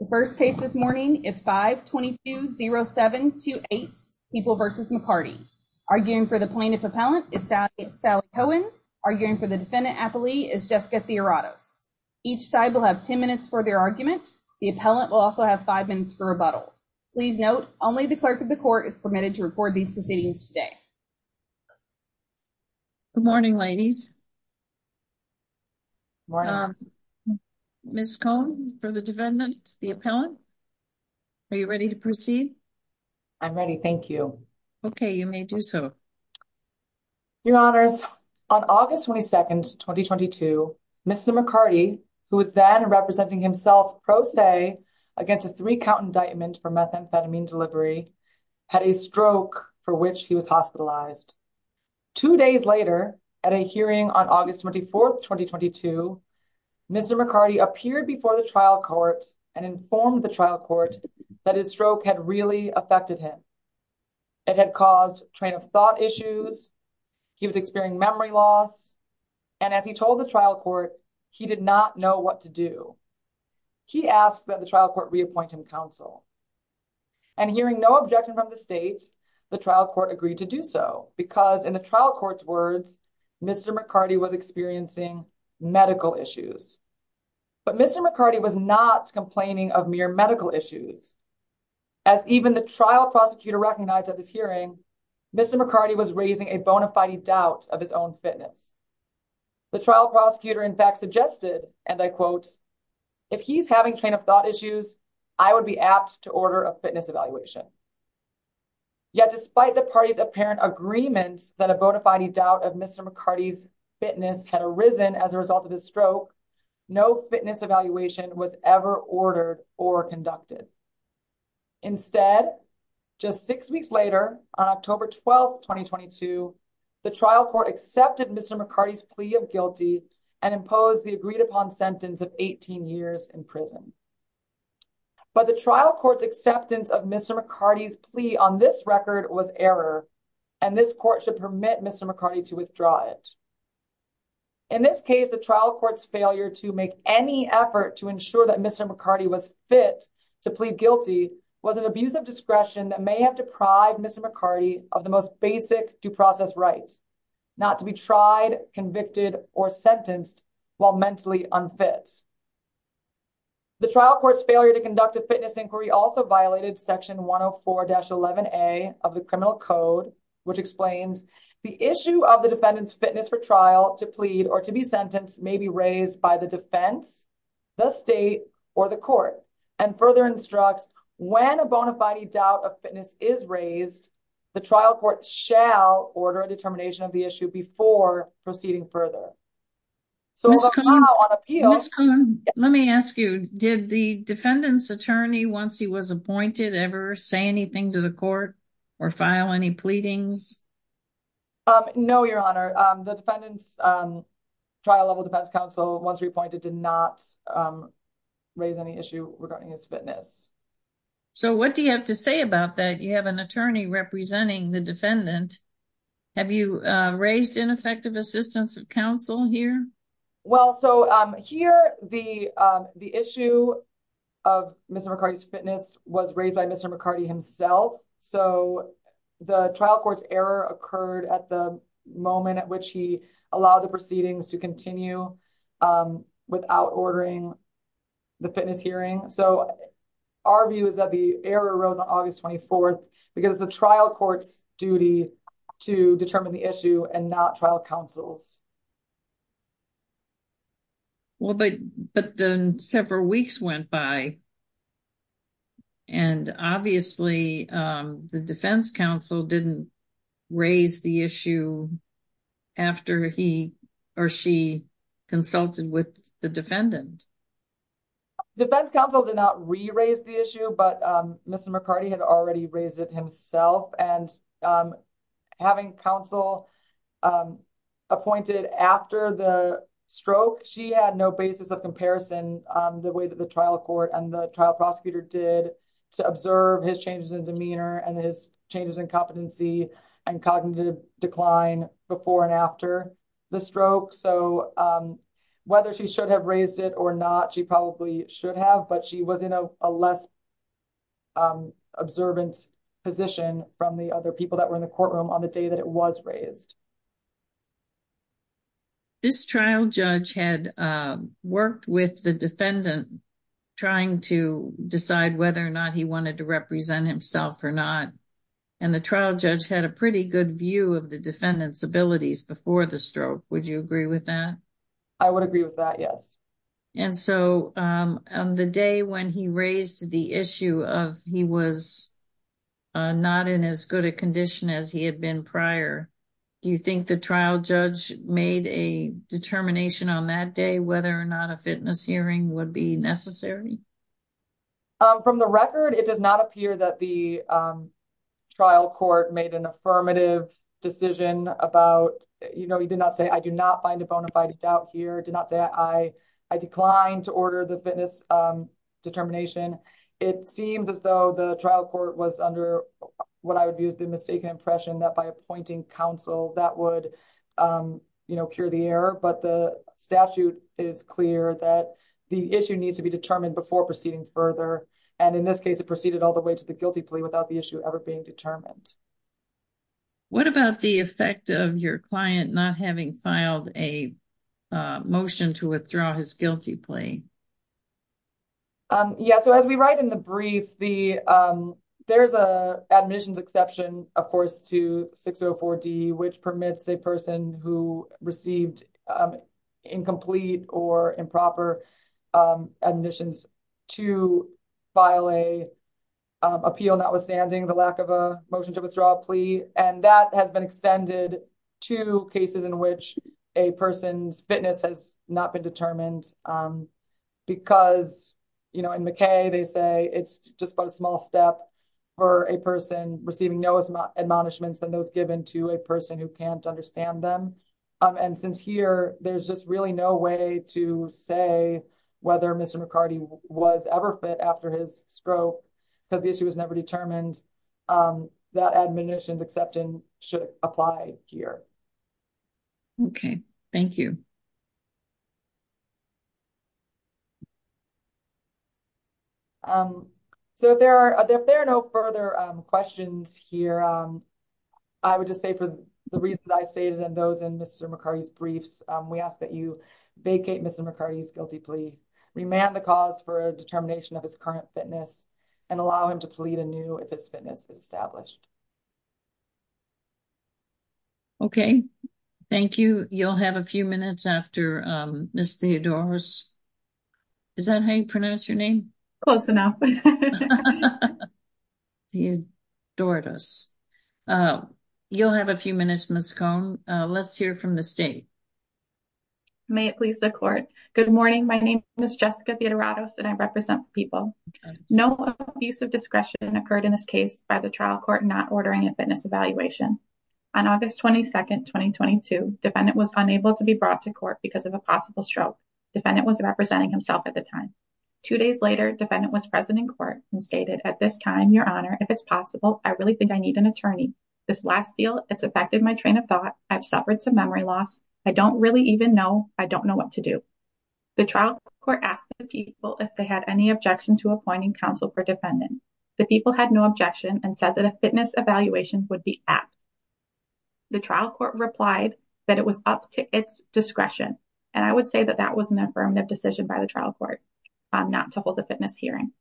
The first case this morning is 522-0728, People v. McCarty. Arguing for the plaintiff appellant is Sally Cohen. Arguing for the defendant appellee is Jessica Theoratos. Each side will have 10 minutes for their argument. The appellant will also have 5 minutes for rebuttal. Please note, only the clerk of the court is permitted to record these proceedings today. Good morning, ladies. Ms. Cohen, for the defendant, the appellant, are you ready to proceed? I'm ready, thank you. Okay, you may do so. Your Honors, on August 22, 2022, Mr. McCarty, who was then representing himself pro se against a three-count indictment for methamphetamine delivery, had a stroke for which he was hospitalized. Two days later, at a hearing on August 24, 2022, Mr. McCarty appeared before the trial court and informed the trial court that his stroke had really affected him. It had caused train-of-thought issues, he was experiencing memory loss, and as he told the trial court, he did not know what to do. He asked that the trial court reappoint him counsel. And hearing no objection from the state, the trial court agreed to do so. In the trial court's words, Mr. McCarty was experiencing medical issues. But Mr. McCarty was not complaining of mere medical issues. As even the trial prosecutor recognized at this hearing, Mr. McCarty was raising a bona fide doubt of his own fitness. The trial prosecutor, in fact, suggested, and I quote, if he's having train-of-thought issues, I would be apt to order a fitness evaluation. Yet, despite the party's apparent agreement that a bona fide doubt of Mr. McCarty's fitness had arisen as a result of his stroke, no fitness evaluation was ever ordered or conducted. Instead, just six weeks later, on October 12, 2022, the trial court accepted Mr. McCarty's plea of guilty and imposed the agreed-upon sentence of 18 years in prison. But the trial court's acceptance of Mr. McCarty's plea on this record was error, and this court should permit Mr. McCarty to withdraw it. In this case, the trial court's failure to make any effort to ensure that Mr. McCarty was fit to plead guilty was an abuse of discretion that may have deprived Mr. McCarty of the most basic due process rights, not to be tried, convicted, or sentenced while mentally unfit. The trial court's failure to conduct a fitness inquiry also violated Section 104-11A of the Criminal Code, which explains the issue of the defendant's fitness for trial to plead or to be sentenced may be raised by the defense, the state, or the court, and further instructs when a bona fide doubt of fitness is raised, the trial court shall order a determination of the issue before proceeding further. So, on appeal— Ms. Coon, let me ask you, did the defendant's attorney, once he was appointed, ever say anything to the court or file any pleadings? No, Your Honor. The defendant's trial-level defense counsel, once reappointed, did not raise any issue regarding his fitness. So, what do you have to say about that? You have an attorney representing the defendant. Have you raised ineffective assistance of counsel here? Well, so, here, the issue of Mr. McCarty's fitness was raised by Mr. McCarty himself, so the trial court's error occurred at the moment at which he allowed the proceedings to continue without ordering the fitness hearing. So, our view is that the error arose on August 24th because the trial court's duty to determine the issue and not trial counsel's. Well, but then several weeks went by, and obviously, the defense counsel didn't raise the issue after he or she consulted with the defendant. The defense counsel did not re-raise the issue, but Mr. McCarty had already raised it himself, and having counsel appointed after the stroke, she had no basis of comparison, the way that the trial court and the trial prosecutor did, to observe his changes in demeanor and his changes in competency and cognitive decline before and after the stroke. So, whether she should have raised it or not, she probably should have, but she was in a less observant position from the other people that were in the courtroom on the day that it was raised. This trial judge had worked with the defendant trying to decide whether or not he wanted to represent himself or not, and the trial judge had a pretty good view of the defendant's abilities before the stroke. Would you agree with that? I would agree with that, yes. And so, on the day when he raised the issue of he was not in as good a condition as he had been prior, do you think the trial judge made a determination on that day whether or not a fitness hearing would be necessary? From the record, it does not appear that the trial court made an affirmative decision about, you know, he did not say, I do not find a bona fide doubt here, did not say I declined to order the fitness determination. It seems as though the trial court was under what I would view as the mistaken impression that by appointing counsel that would, you know, cure the error, but the statute is clear that the issue needs to be determined before proceeding further, and in this case it proceeded all the way to the guilty plea without the issue ever being determined. What about the effect of your client not having filed a motion to withdraw his guilty plea? Yeah, so as we write in the brief, there's an admissions exception, of course, to 604D, which permits a person who received incomplete or improper admissions to file a motion to withdraw a plea, and that has been extended to cases in which a person's fitness has not been determined because, you know, in McKay they say it's just but a small step for a person receiving no admonishments than those given to a person who can't understand them, and since here there's just really no way to say whether Mr. McCarty was ever fit after his stroke because the issue was never determined, that admissions exception should apply here. Okay, thank you. So if there are no further questions here, I would just say for the reason I stated in those in Mr. McCarty's briefs, we ask that you vacate Mr. McCarty's guilty plea, remand the cause for determination of his current fitness, and allow him to plead anew if his fitness is established. Okay, thank you. You'll have a few minutes after Ms. Theodoros. Is that how you pronounce your name? Close enough. Theodoros. You'll have a few minutes, Ms. Cohn. Let's hear from the state. May it please the court. Good morning. My name is Jessica Theodoros, and I represent people. No abuse of discretion occurred in this case by the trial court not ordering a fitness evaluation. On August 22, 2022, defendant was unable to be brought to court because of a possible stroke. Defendant was representing himself at the time. Two days later, defendant was present in court and stated, at this time, your honor, if it's possible, I really think I need an attorney. This last deal, it's affected my train of thought. I've suffered some memory loss. I don't really even know. I don't know what to do. The trial court asked the people if they had any objection to appointing counsel for defendant. The people had no objection and said that a fitness evaluation would be apt. The trial court replied that it was up to its discretion, and I would say that that was an affirmative decision by the trial court not to hold a fitness hearing,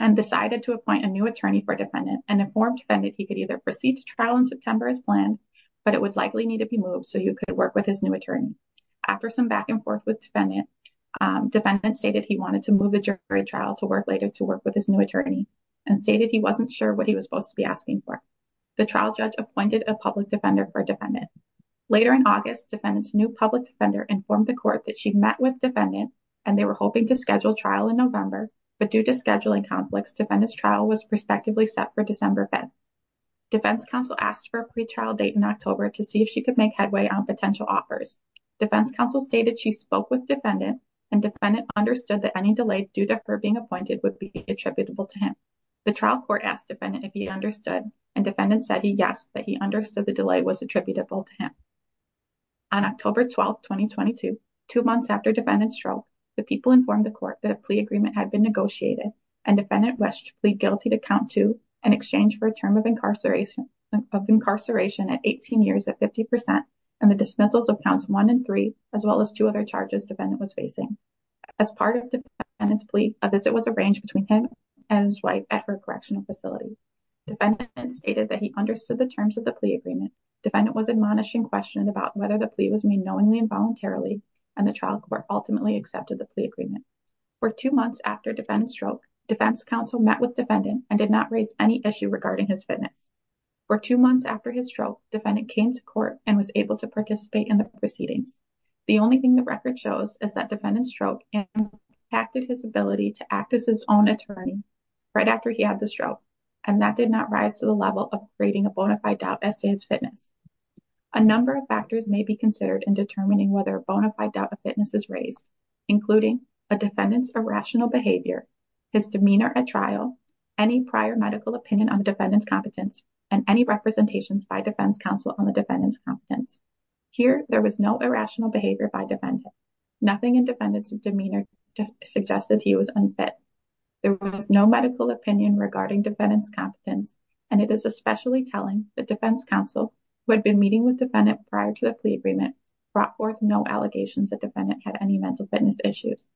and decided to appoint a new attorney for defendant, and informed defendant he could either proceed to trial in September as planned, but it would likely need to be moved so he could work with his new attorney. After some back and forth with defendant, defendant stated he wanted to move the jury trial to work later to work with his new attorney, and stated he wasn't sure what he was supposed to be asking for. The trial judge appointed a public defender for defendant. Later in August, defendant's new public defender informed the court that she met with defendant, and they were hoping to schedule trial in November, but due to scheduling conflicts, defendant's trial was respectively set for December 5. Defense counsel asked for a pre-trial date in October to see if she could make headway on potential offers. Defense counsel stated she spoke with defendant, and defendant understood that any delay due to her being appointed would be attributable to him. The trial court asked defendant if he understood, and defendant said he guessed that he understood the delay was attributable to him. On October 12, 2022, two months after defendant's trial, the people informed the court that a plea agreement had been negotiated, and defendant wished to plead guilty to count two in exchange for a term of incarceration at 18 years at 50%, and the dismissals of counts one and three, as well as two other charges defendant was facing. As part of defendant's plea, a visit was arranged between him and his wife at her correctional facility. Defendant stated that he understood the terms of the plea agreement. Defendant was admonishing question about whether the plea was made knowingly and voluntarily, and the trial court ultimately accepted the plea agreement. For two months after defendant's stroke, defense counsel met with defendant and did not raise any issue regarding his fitness. For two months after his stroke, defendant came to court and was able to participate in the proceedings. The only thing the record shows is that defendant's stroke impacted his ability to act as his own attorney right after he had the stroke, and that did not rise to the level of creating a bona fide doubt as to his fitness. A number of factors may be considered in determining whether a bona fide doubt of defendant's irrational behavior, his demeanor at trial, any prior medical opinion on defendant's competence, and any representations by defense counsel on the defendant's competence. Here, there was no irrational behavior by defendant. Nothing in defendant's demeanor suggested he was unfit. There was no medical opinion regarding defendant's competence, and it is especially telling that defense counsel, who had been meeting with defendant prior to the plea agreement, brought forth no allegations that defendant had any mental fitness issues.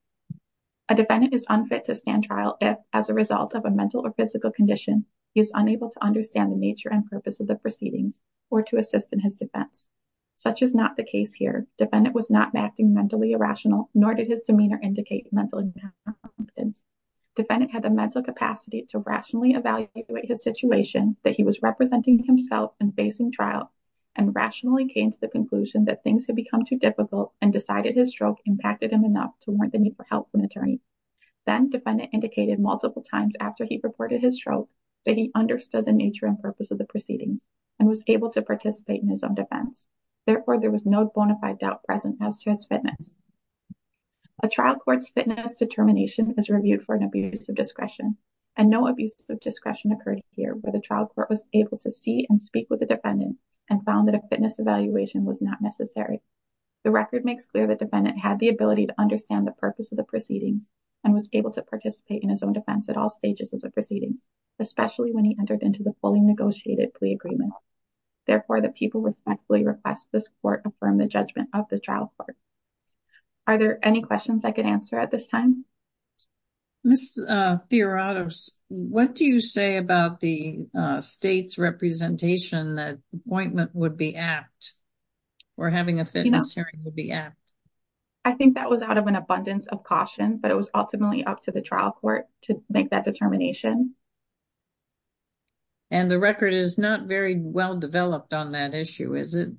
A defendant is unfit to stand trial if, as a result of a mental or physical condition, he is unable to understand the nature and purpose of the proceedings or to assist in his defense. Such is not the case here. Defendant was not acting mentally irrational, nor did his demeanor indicate mental incompetence. Defendant had the mental capacity to rationally evaluate his situation that he was representing himself and facing trial and rationally came to the conclusion that things had become too difficult and decided his stroke impacted him enough to warrant the need help from attorney. Then, defendant indicated multiple times after he reported his stroke that he understood the nature and purpose of the proceedings and was able to participate in his own defense. Therefore, there was no bona fide doubt present as to his fitness. A trial court's fitness determination is reviewed for an abuse of discretion, and no abuse of discretion occurred here where the trial court was able to see and speak with the defendant and found that a fitness evaluation was not necessary. The record makes clear that the defendant was able to understand the purpose of the proceedings and was able to participate in his own defense at all stages of the proceedings, especially when he entered into the fully negotiated plea agreement. Therefore, the people respectfully request this court affirm the judgment of the trial court. Are there any questions I could answer at this time? Ms. Fiorato, what do you say about the state's representation that appointment would be I think that was out of an abundance of caution, but it was ultimately up to the trial court to make that determination. And the record is not very well developed on that issue, is it?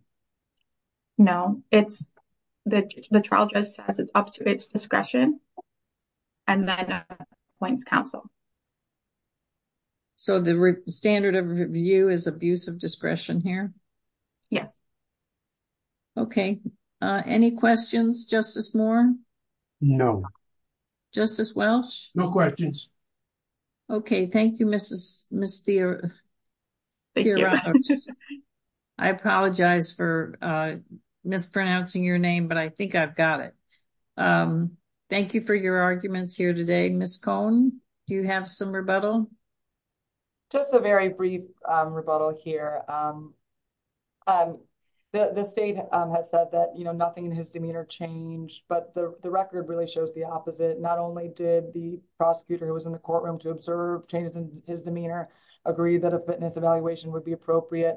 No, it's the trial judge says it's up to its discretion, and then points counsel. So the standard of review is abuse of discretion here? Yes. Okay. Any questions, Justice Moore? No. Justice Welsh? No questions. Okay. Thank you, Ms. Fiorato. I apologize for mispronouncing your name, but I think I've got it. Thank you for your arguments here today. Ms. Cohn, do you have some rebuttal? Just a very brief rebuttal here. The state has said that nothing in his demeanor changed, but the record really shows the opposite. Not only did the prosecutor who was in the courtroom to observe changes in his demeanor, agree that a fitness evaluation would be appropriate.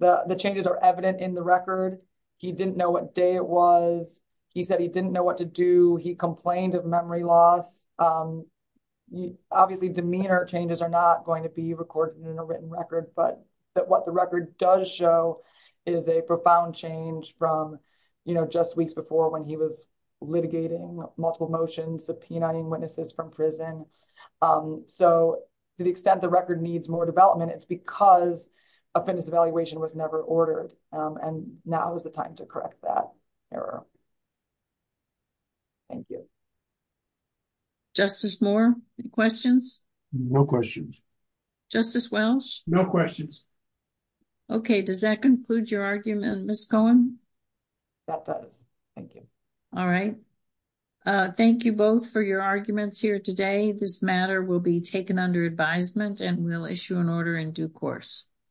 The changes are evident in the record. He didn't know what day it was. He said he didn't know what to do. He complained of memory loss. Obviously, demeanor changes are not going to be recorded in a written record, but what the record does show is a profound change from just weeks before when he was litigating multiple motions, subpoenaing witnesses from prison. So to the extent the record needs more development, it's because a fitness evaluation was never ordered, and now is the time to correct that error. Thank you. Justice Moore, any questions? No questions. Justice Welsh? No questions. Okay. Does that conclude your argument, Ms. Cohn? That does. Thank you. All right. Thank you both for your arguments here today. This matter will be taken under advisement, and we'll issue an order in due course.